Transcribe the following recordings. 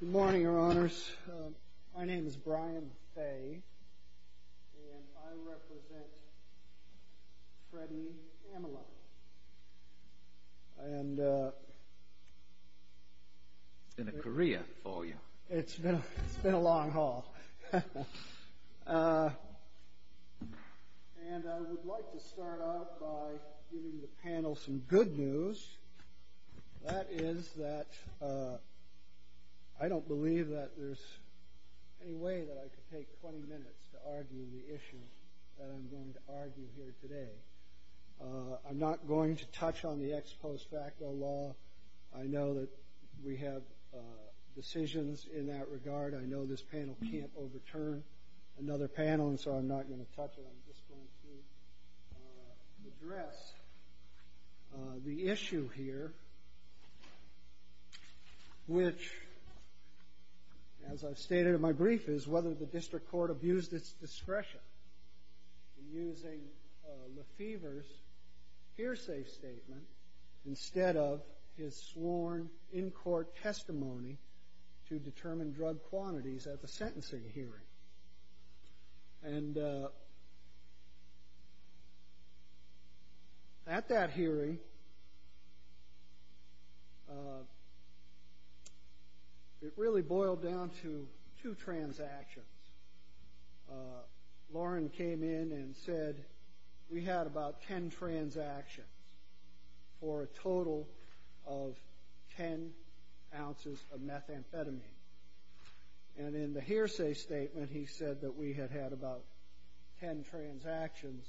Good morning, Your Honors. My name is Brian Fay, and I represent Freddie Ameline. It's been a career for you. It's been a long haul. And I would like to start out by giving the panel some good news. That is that I don't believe that there's any way that I could take 20 minutes to argue the issue that I'm going to argue here today. I'm not going to touch on the ex post facto law. I know that we have decisions in that regard. I know this panel can't overturn another panel, and so I'm not going to touch it. I'm just going to address the issue here, which, as I've stated in my brief, is whether the district court abused its discretion in using Lefebvre's hearsay statement instead of his sworn in-court testimony to determine drug quantities at the sentencing hearing. And at that hearing, it really boiled down to two transactions. Lauren came in and said, we had about 10 transactions for a total of 10 ounces of methamphetamine. And in the hearsay statement, he said that we had had about 10 transactions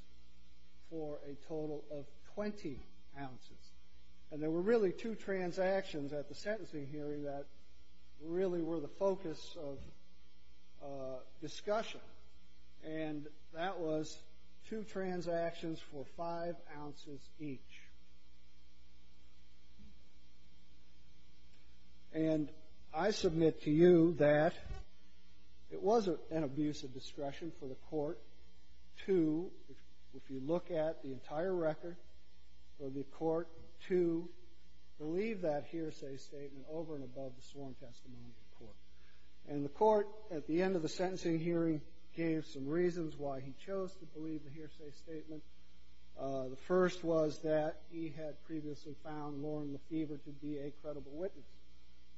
for a total of 20 ounces. And there were really two transactions at the sentencing hearing that really were the focus of discussion. And that was two transactions for five ounces each. And I submit to you that it was an abuse of discretion for the court to, if you look at the entire record, for the court to believe that hearsay statement over and above the sworn testimony of the court. And the court, at the end of the sentencing hearing, gave some reasons why he chose to believe the hearsay statement. The first was that he had previously found Lauren Lefebvre to be a credible witness.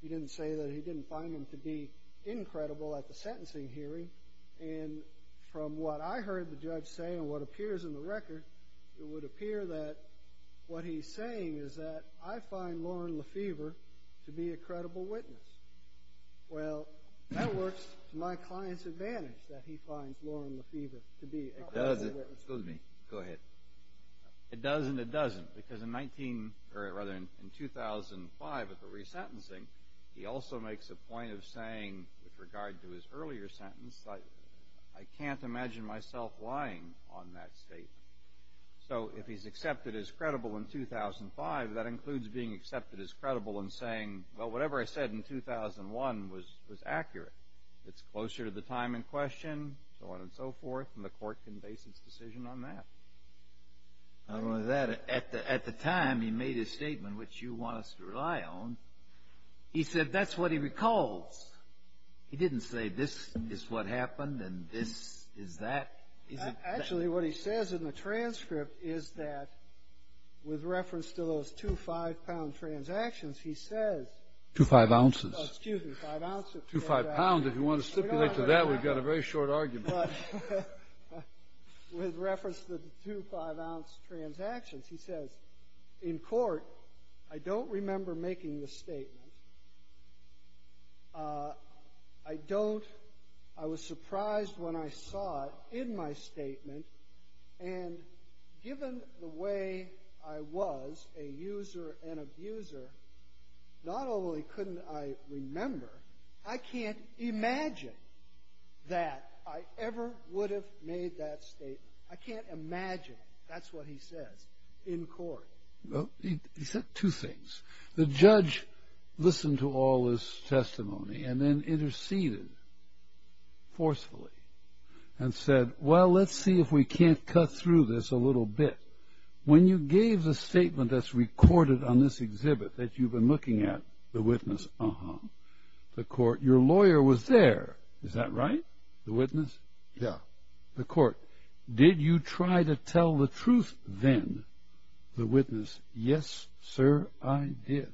He didn't say that he didn't find him to be incredible at the sentencing hearing. And from what I heard the judge say and what appears in the record, it would appear that what he's saying is that I find Lauren Lefebvre to be a credible witness. Well, that works to my client's advantage, that he finds Lauren Lefebvre to be a credible witness. Excuse me. Go ahead. It does and it doesn't, because in 2005 at the resentencing, he also makes a point of saying, with regard to his earlier sentence, I can't imagine myself lying on that statement. So if he's accepted as credible in 2005, that includes being accepted as credible and saying, well, whatever I said in 2001 was accurate. It's closer to the time in question, so on and so forth, and the court can base its decision on that. Not only that, at the time he made his statement, which you want us to rely on, he said that's what he recalls. He didn't say this is what happened and this is that. Actually, what he says in the transcript is that, with reference to those two five-pound transactions, he says... Two five ounces. Excuse me, five ounces. Two five pounds. If you want to stipulate to that, we've got a very short argument. With reference to the two five-ounce transactions, he says, in court, I don't remember making the statement. I don't. I was surprised when I saw it in my statement, and given the way I was, a user and abuser, not only couldn't I remember, I can't imagine that I ever would have made that statement. I can't imagine that's what he says in court. He said two things. The judge listened to all his testimony and then interceded forcefully and said, well, let's see if we can't cut through this a little bit. When you gave the statement that's recorded on this exhibit that you've been looking at, the witness, uh-huh. The court, your lawyer was there. Is that right? The witness? Yeah. The court, did you try to tell the truth then? The witness, yes, sir, I did.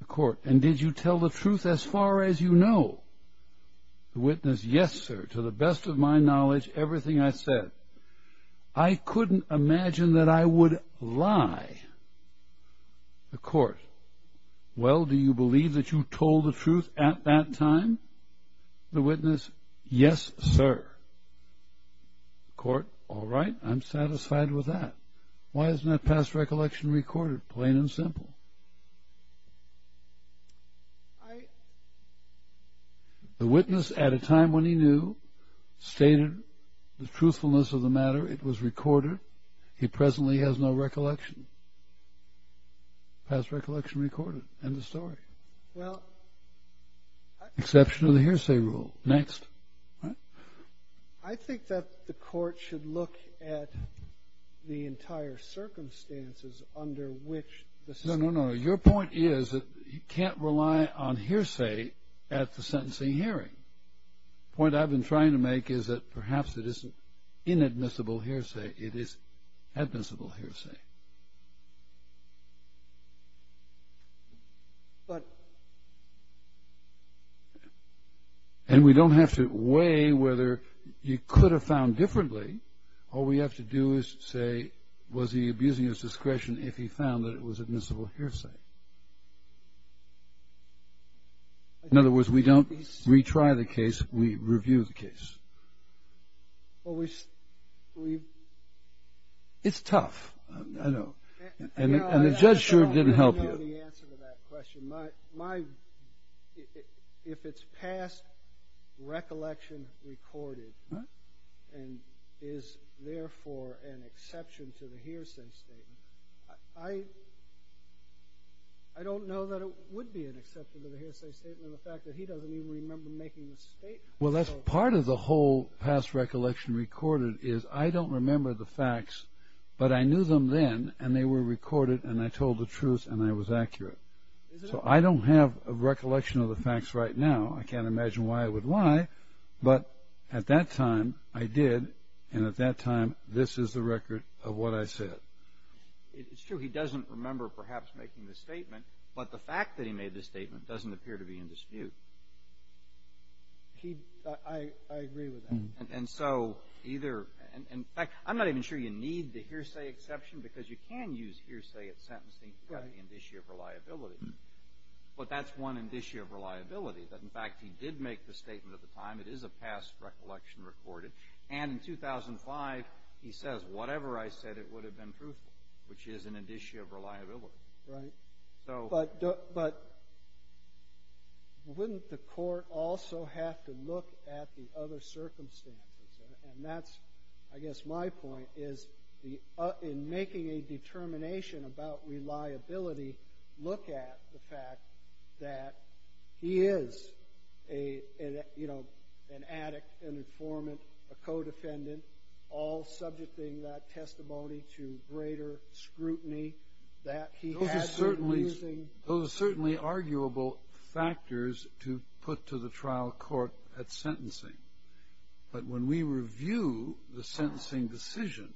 The court, and did you tell the truth as far as you know? The witness, yes, sir, to the best of my knowledge, everything I said. I couldn't imagine that I would lie. The court, well, do you believe that you told the truth at that time? The witness, yes, sir. The court, all right, I'm satisfied with that. Why isn't that past recollection recorded, plain and simple? The witness, at a time when he knew, stated the truthfulness of the matter. It was recorded. He presently has no recollection. Past recollection recorded. End of story. Exception of the hearsay rule. Next. What? I think that the court should look at the entire circumstances under which the sentencing. No, no, no. Your point is that you can't rely on hearsay at the sentencing hearing. The point I've been trying to make is that perhaps it isn't inadmissible hearsay. It is admissible hearsay. But. And we don't have to weigh whether he could have found differently. All we have to do is say, was he abusing his discretion if he found that it was admissible hearsay? In other words, we don't retry the case. We review the case. Well, we. It's tough. I know. And the judge sure didn't help you. I don't know the answer to that question. My. If it's past recollection recorded. And is therefore an exception to the hearsay statement. I. I don't know that it would be an exception to the hearsay statement. The fact that he doesn't even remember making the statement. Well, that's part of the whole past recollection recorded is I don't remember the facts. But I knew them then. And they were recorded. And I told the truth. And I was accurate. So I don't have a recollection of the facts right now. I can't imagine why I would lie. But at that time, I did. And at that time, this is the record of what I said. It's true. He doesn't remember perhaps making the statement. But the fact that he made the statement doesn't appear to be in dispute. He. I. I agree with him. And so either. And in fact, I'm not even sure you need the hearsay exception because you can use hearsay at sentencing. Right. In this year of reliability. But that's one in this year of reliability. That in fact, he did make the statement at the time. It is a past recollection recorded. And in 2005, he says, whatever I said, it would have been truthful, which is in addition of reliability. Right. So. But wouldn't the court also have to look at the other circumstances? And that's, I guess, my point is in making a determination about reliability, look at the fact that he is an addict, an informant, a co-defendant, all subjecting that testimony to greater scrutiny. Those are certainly arguable factors to put to the trial court at sentencing. But when we review the sentencing decision,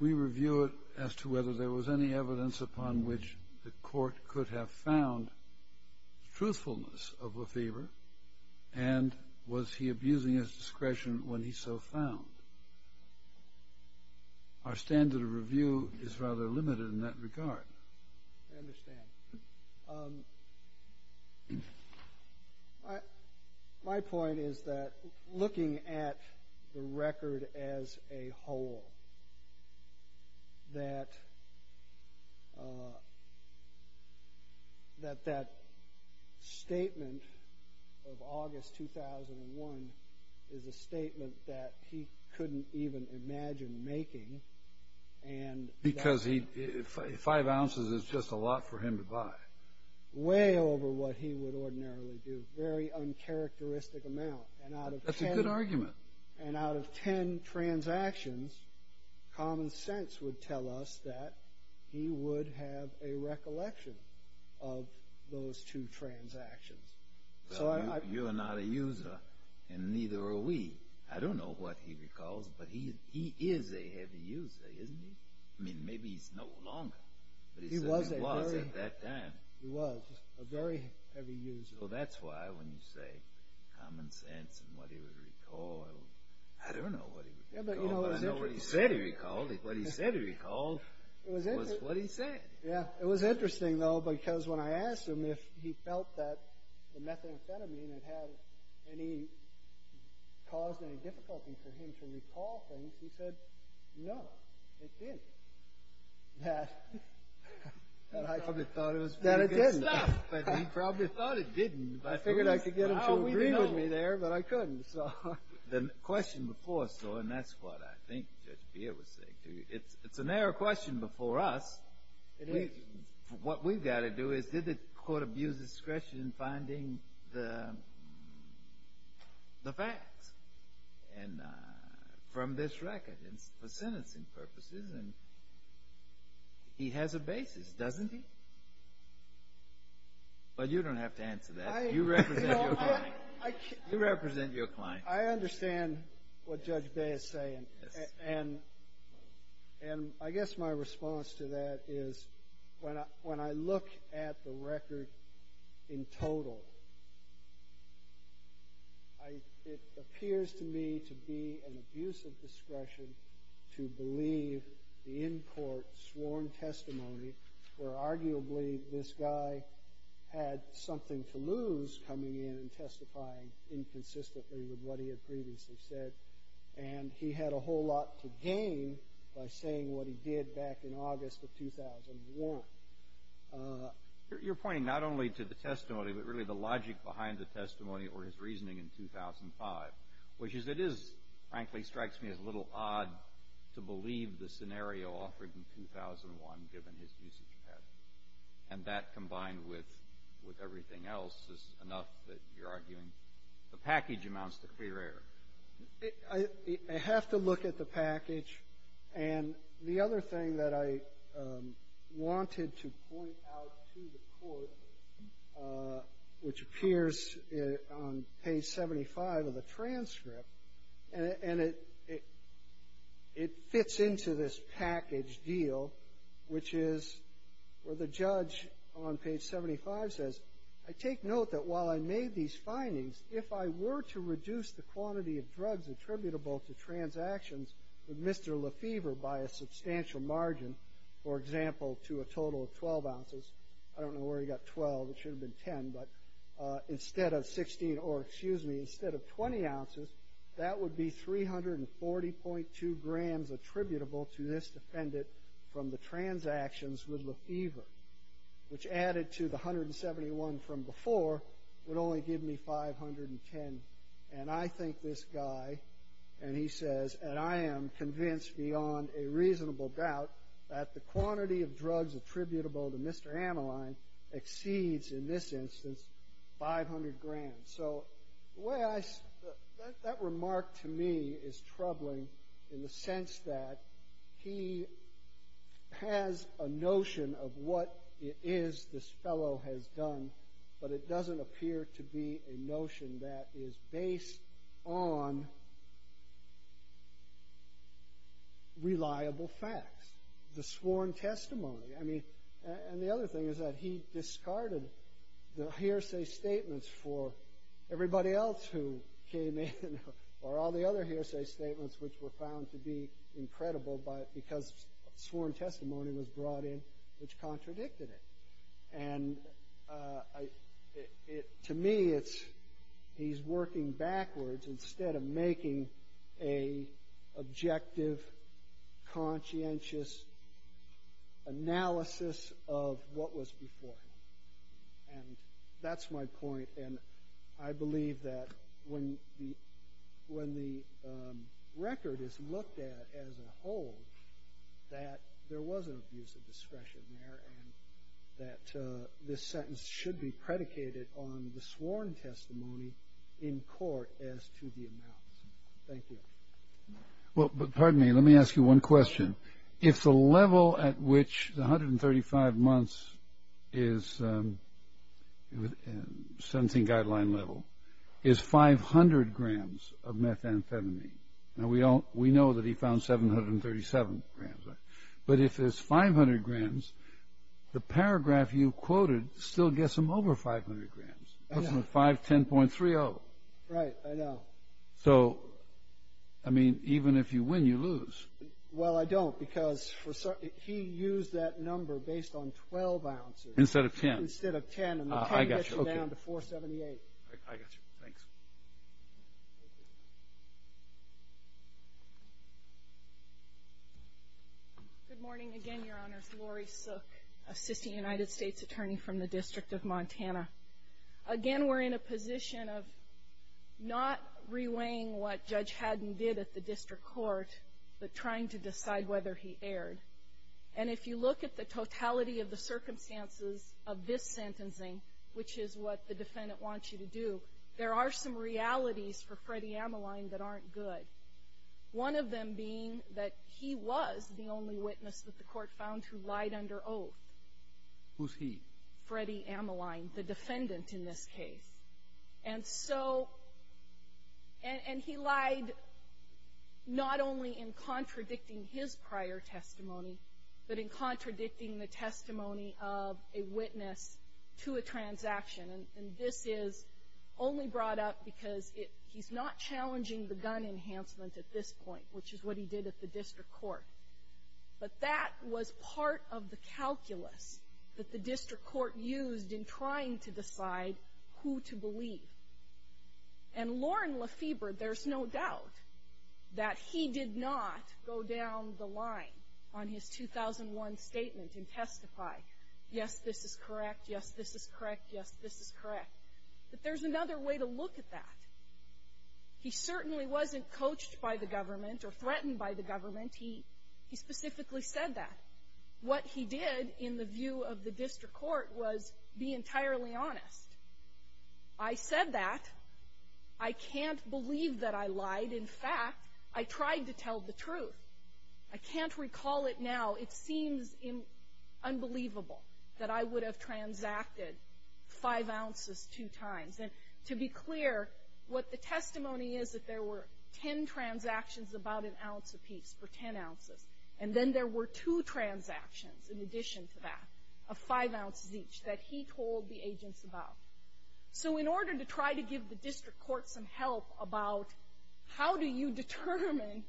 we review it as to whether there was any evidence upon which the court could have found truthfulness of a favor. And was he abusing his discretion when he so found? Our standard of review is rather limited in that regard. I understand. My point is that looking at the record as a whole, that statement of August 2001 is a statement that he couldn't even imagine making. Because five ounces is just a lot for him to buy. Way over what he would ordinarily do. Very uncharacteristic amount. That's a good argument. And out of ten transactions, common sense would tell us that he would have a recollection of those two transactions. Well, you're not a user, and neither are we. I don't know what he recalls, but he is a heavy user, isn't he? I mean, maybe he's no longer, but he certainly was at that time. He was a very heavy user. So that's why when you say common sense and what he would recall, I don't know what he recalled, but I know what he said he recalled. What he said he recalled was what he said. It was interesting, though, because when I asked him if he felt that the methamphetamine had caused any difficulty for him to recall things, he said, no, it didn't. I probably thought it was pretty good stuff, but he probably thought it didn't. I figured I could get him to agree with me there, but I couldn't. The question before us, though, and that's what I think Judge Beard was saying to you, it's a narrow question before us. What we've got to do is, did the court abuse discretion in finding the facts from this record for sentencing purposes? He has a basis, doesn't he? But you don't have to answer that. You represent your client. I understand what Judge Bay is saying, and I guess my response to that is when I look at the record in total, it appears to me to be an abuse of discretion to believe the in-court sworn testimony, where arguably this guy had something to lose coming in and testifying inconsistently with what he had previously said, and he had a whole lot to gain by saying what he did back in August of 2001. You're pointing not only to the testimony, but really the logic behind the testimony or his reasoning in 2005, which, as it is, frankly strikes me as a little odd to believe the scenario offered in 2001, given his usage pattern. And that, combined with everything else, is enough that you're arguing the package amounts to clear error. I have to look at the package. And the other thing that I wanted to point out to the court, which appears on page 75 of the transcript, and it fits into this package deal, which is where the judge on page 75 says, I take note that while I made these findings, if I were to reduce the quantity of drugs attributable to transactions with Mr. Lefevre by a substantial margin, for example, to a total of 12 ounces, I don't know where he got 12. It should have been 10. But instead of 20 ounces, that would be 340.2 grams attributable to this defendant from the transactions with Lefevre, which added to the 171 from before would only give me 510. And I think this guy, and he says, and I am convinced beyond a reasonable doubt that the quantity of drugs attributable to Mr. Ameline exceeds, in this instance, 500 grams. So that remark to me is troubling in the sense that he has a notion of what it is this fellow has done, but it doesn't appear to be a notion that is based on reliable facts, the sworn testimony. And the other thing is that he discarded the hearsay statements for everybody else who came in, or all the other hearsay statements which were found to be incredible because sworn testimony was brought in, which contradicted it. And to me, he's working backwards instead of making an objective, conscientious analysis of what was before him. And that's my point. And I believe that when the record is looked at as a whole, that there was an abuse of discretion there and that this sentence should be predicated on the sworn testimony in court as to the amounts. Thank you. Well, but pardon me. Let me ask you one question. If the level at which the 135 months is sentencing guideline level is 500 grams of methamphetamine, we know that he found 737 grams. But if it's 500 grams, the paragraph you quoted still gets him over 500 grams. It puts him at 510.30. Right. I know. So, I mean, even if you win, you lose. Well, I don't because he used that number based on 12 ounces. Instead of 10. Instead of 10. And the 10 gets you down to 478. I got you. Thanks. Good morning again, Your Honors. Lori Sook, Assistant United States Attorney from the District of Montana. Again, we're in a position of not reweighing what Judge Haddon did at the district court, but trying to decide whether he erred. And if you look at the totality of the circumstances of this sentencing, which is what the defendant wants you to do, there are some realities for Freddie Ameline that aren't good. One of them being that he was the only witness that the court found who lied under oath. Who's he? Freddie Ameline, the defendant in this case. And so he lied not only in contradicting his prior testimony, but in contradicting the testimony of a witness to a transaction. And this is only brought up because he's not challenging the gun enhancement at this point, which is what he did at the district court. But that was part of the calculus that the district court used in trying to decide who to believe. And Loren Lefebvre, there's no doubt that he did not go down the line on his 2001 statement and testify, yes, this is correct, yes, this is correct, yes, this is correct. But there's another way to look at that. He certainly wasn't coached by the government or threatened by the government. He specifically said that. What he did in the view of the district court was be entirely honest. I said that. I can't believe that I lied. In fact, I tried to tell the truth. I can't recall it now. It seems unbelievable that I would have transacted five ounces two times. And to be clear, what the testimony is that there were ten transactions about an ounce apiece for ten ounces, and then there were two transactions in addition to that of five ounces each that he told the agents about. So in order to try to give the district court some help about how do you determine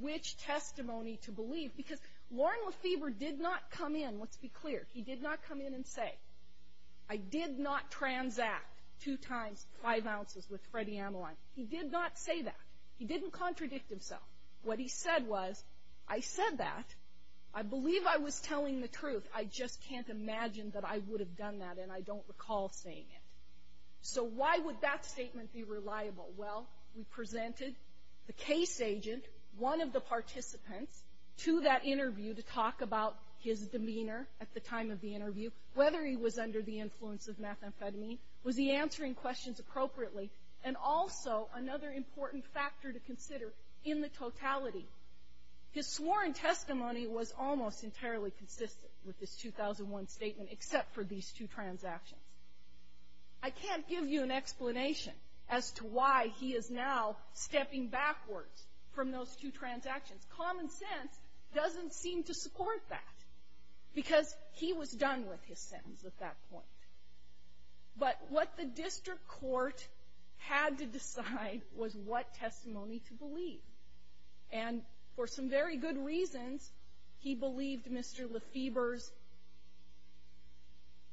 which testimony to believe, because Loren Lefebvre did not come in, let's be clear, he did not come in and say, I did not transact two times five ounces with Freddie Ameline. He did not say that. He didn't contradict himself. What he said was, I said that. I believe I was telling the truth. I just can't imagine that I would have done that, and I don't recall saying it. So why would that statement be reliable? Well, we presented the case agent, one of the participants, to that interview to talk about his demeanor at the time of the interview, whether he was under the influence of methamphetamine, was he answering questions appropriately, and also another important factor to consider in the totality. His sworn testimony was almost entirely consistent with this 2001 statement, except for these two transactions. I can't give you an explanation as to why he is now stepping backwards from those two transactions. Common sense doesn't seem to support that, because he was done with his sentence at that point. But what the district court had to decide was what testimony to believe. And for some very good reasons, he believed Mr. Lefebvre's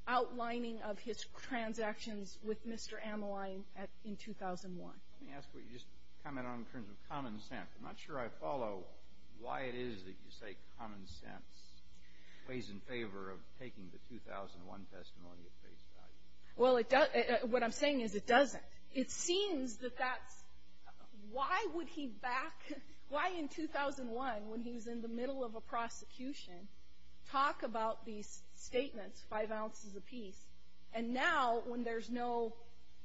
outlining of his transactions with Mr. Amoline in 2001. Let me ask what you just commented on in terms of common sense. I'm not sure I follow why it is that you say common sense weighs in favor of taking the 2001 testimony at face value. Well, what I'm saying is it doesn't. It seems that that's why would he back, why in 2001, when he was in the middle of a prosecution, talk about these statements, five ounces apiece, and now when there's no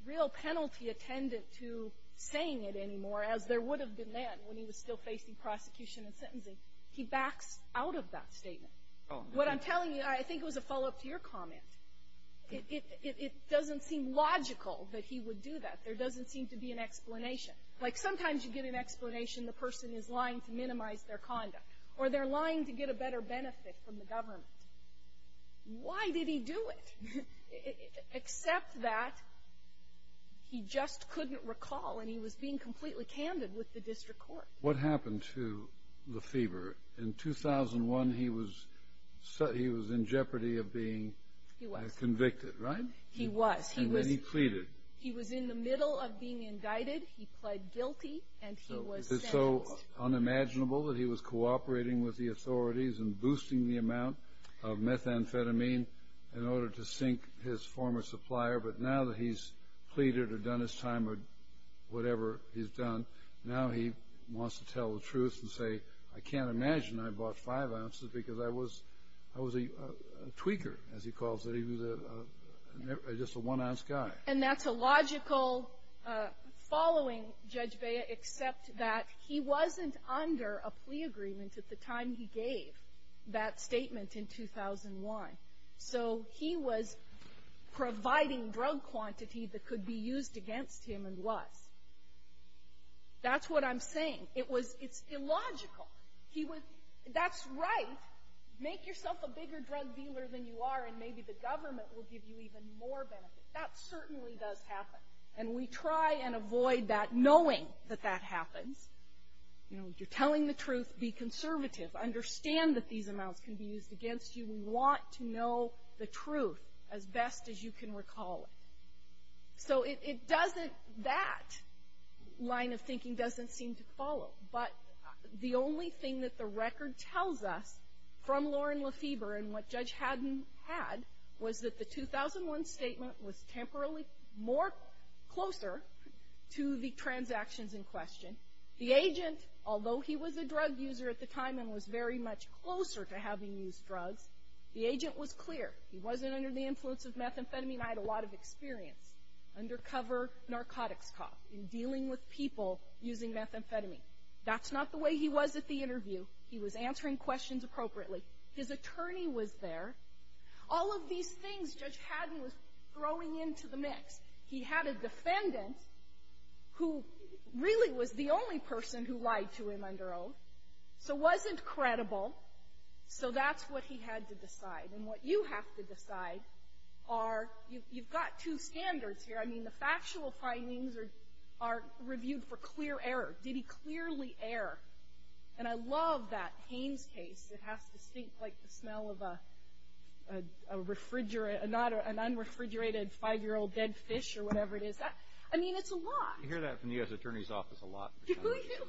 real penalty attendant to saying it anymore, as there would have been then when he was still facing prosecution and sentencing, he backs out of that statement. What I'm telling you, I think it was a follow-up to your comment. It doesn't seem logical that he would do that. There doesn't seem to be an explanation. Like sometimes you get an explanation, the person is lying to minimize their conduct, or they're lying to get a better benefit from the government. Why did he do it? Except that he just couldn't recall, and he was being completely candid with the district court. What happened to Lefebvre? In 2001, he was in jeopardy of being convicted, right? He was. And then he pleaded. He was in the middle of being indicted. He pled guilty, and he was sentenced. It's so unimaginable that he was cooperating with the authorities and boosting the amount of methamphetamine in order to sink his former supplier, but now that he's pleaded or done his time or whatever he's done, now he wants to tell the truth and say, I can't imagine I bought five ounces because I was a tweaker, as he calls it. He was just a one-ounce guy. And that's a logical following, Judge Bea, except that he wasn't under a plea agreement at the time he gave that statement in 2001. So he was providing drug quantity that could be used against him and was. That's what I'm saying. It's illogical. That's right. Make yourself a bigger drug dealer than you are, and maybe the government will give you even more benefit. That certainly does happen. And we try and avoid that, knowing that that happens. You know, you're telling the truth. Be conservative. Understand that these amounts can be used against you. We want to know the truth as best as you can recall it. So it doesn't — that line of thinking doesn't seem to follow. But the only thing that the record tells us from Loren Lefebvre and what Judge Haddon had, was that the 2001 statement was temporarily more closer to the transactions in question. The agent, although he was a drug user at the time and was very much closer to having used drugs, the agent was clear. He wasn't under the influence of methamphetamine. I had a lot of experience, undercover narcotics cop, in dealing with people using methamphetamine. That's not the way he was at the interview. He was answering questions appropriately. His attorney was there. All of these things Judge Haddon was throwing into the mix. He had a defendant who really was the only person who lied to him under oath, so wasn't credible. So that's what he had to decide. And what you have to decide are — you've got two standards here. I mean, the factual findings are reviewed for clear error. Did he clearly err? And I love that Haynes case. It has to stink like the smell of an unrefrigerated five-year-old dead fish or whatever it is. I mean, it's a lot. You hear that from the U.S. Attorney's Office a lot. Do you?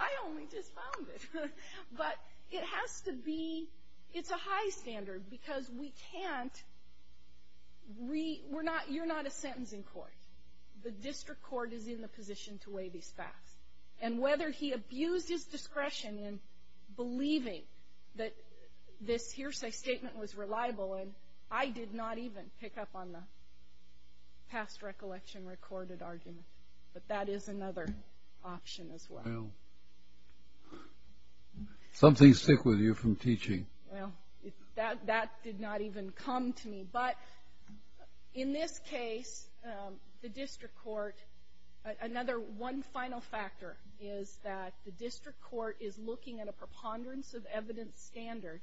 I only just found it. But it has to be — it's a high standard because we can't — you're not a sentencing court. The district court is in the position to weigh these facts. And whether he abused his discretion in believing that this hearsay statement was reliable, and I did not even pick up on the past recollection recorded argument. But that is another option as well. Something's sick with you from teaching. Well, that did not even come to me. But in this case, the district court — another one final factor is that the district court is looking at a preponderance of evidence standard,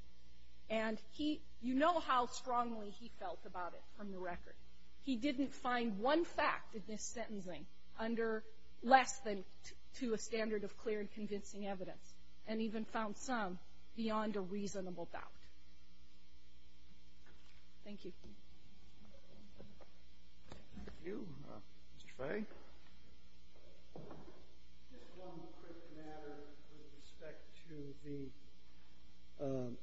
and he — you know how strongly he felt about it from the record. He didn't find one fact in this sentencing under less than to a standard of clear and convincing evidence, and even found some beyond a reasonable doubt. Thank you. Thank you. Mr. Fay. Just one quick matter with respect to the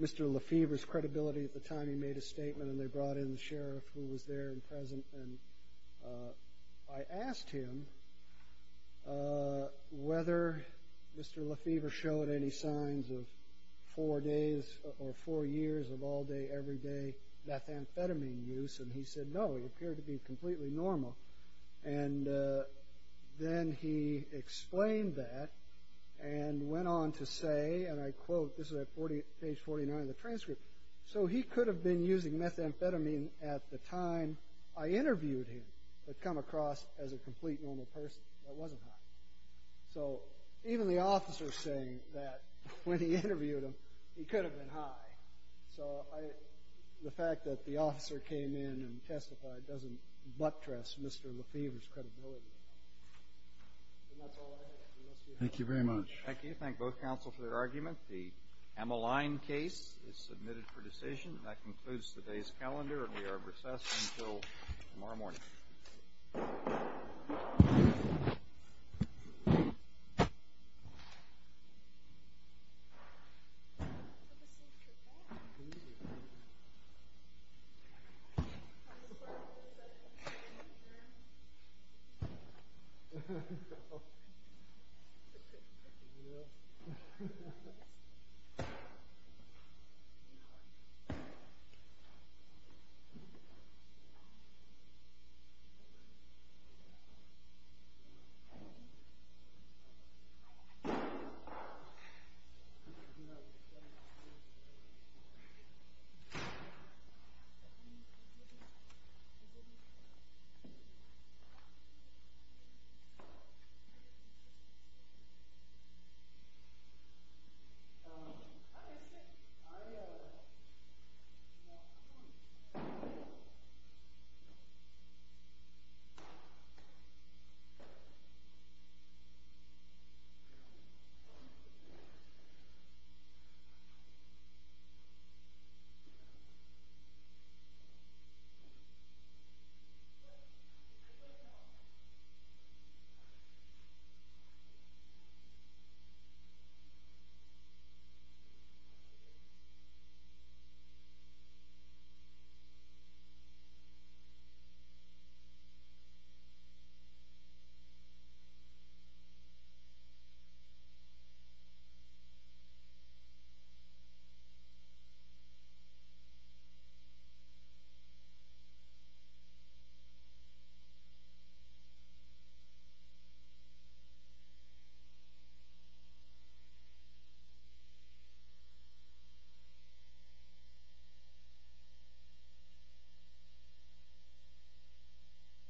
— Mr. Lefevre's credibility at the time he made a statement, and they brought in the sheriff who was there and present, and I asked him whether Mr. Lefevre showed any signs of four days or four years of all-day, every-day methamphetamine use, and he said no. He appeared to be completely normal. And then he explained that and went on to say, and I quote — this is at page 49 of the transcript. So he could have been using methamphetamine at the time I interviewed him, but come across as a complete normal person. That wasn't how it was. So even the officer saying that when he interviewed him, he could have been high. So the fact that the officer came in and testified doesn't buttress Mr. Lefevre's credibility. And that's all I have. Thank you very much. Thank you. Thank both counsel for their argument. The Emmeline case is submitted for decision, and that concludes today's calendar, and we are recessed until tomorrow morning. Thank you. Thank you. Thank you.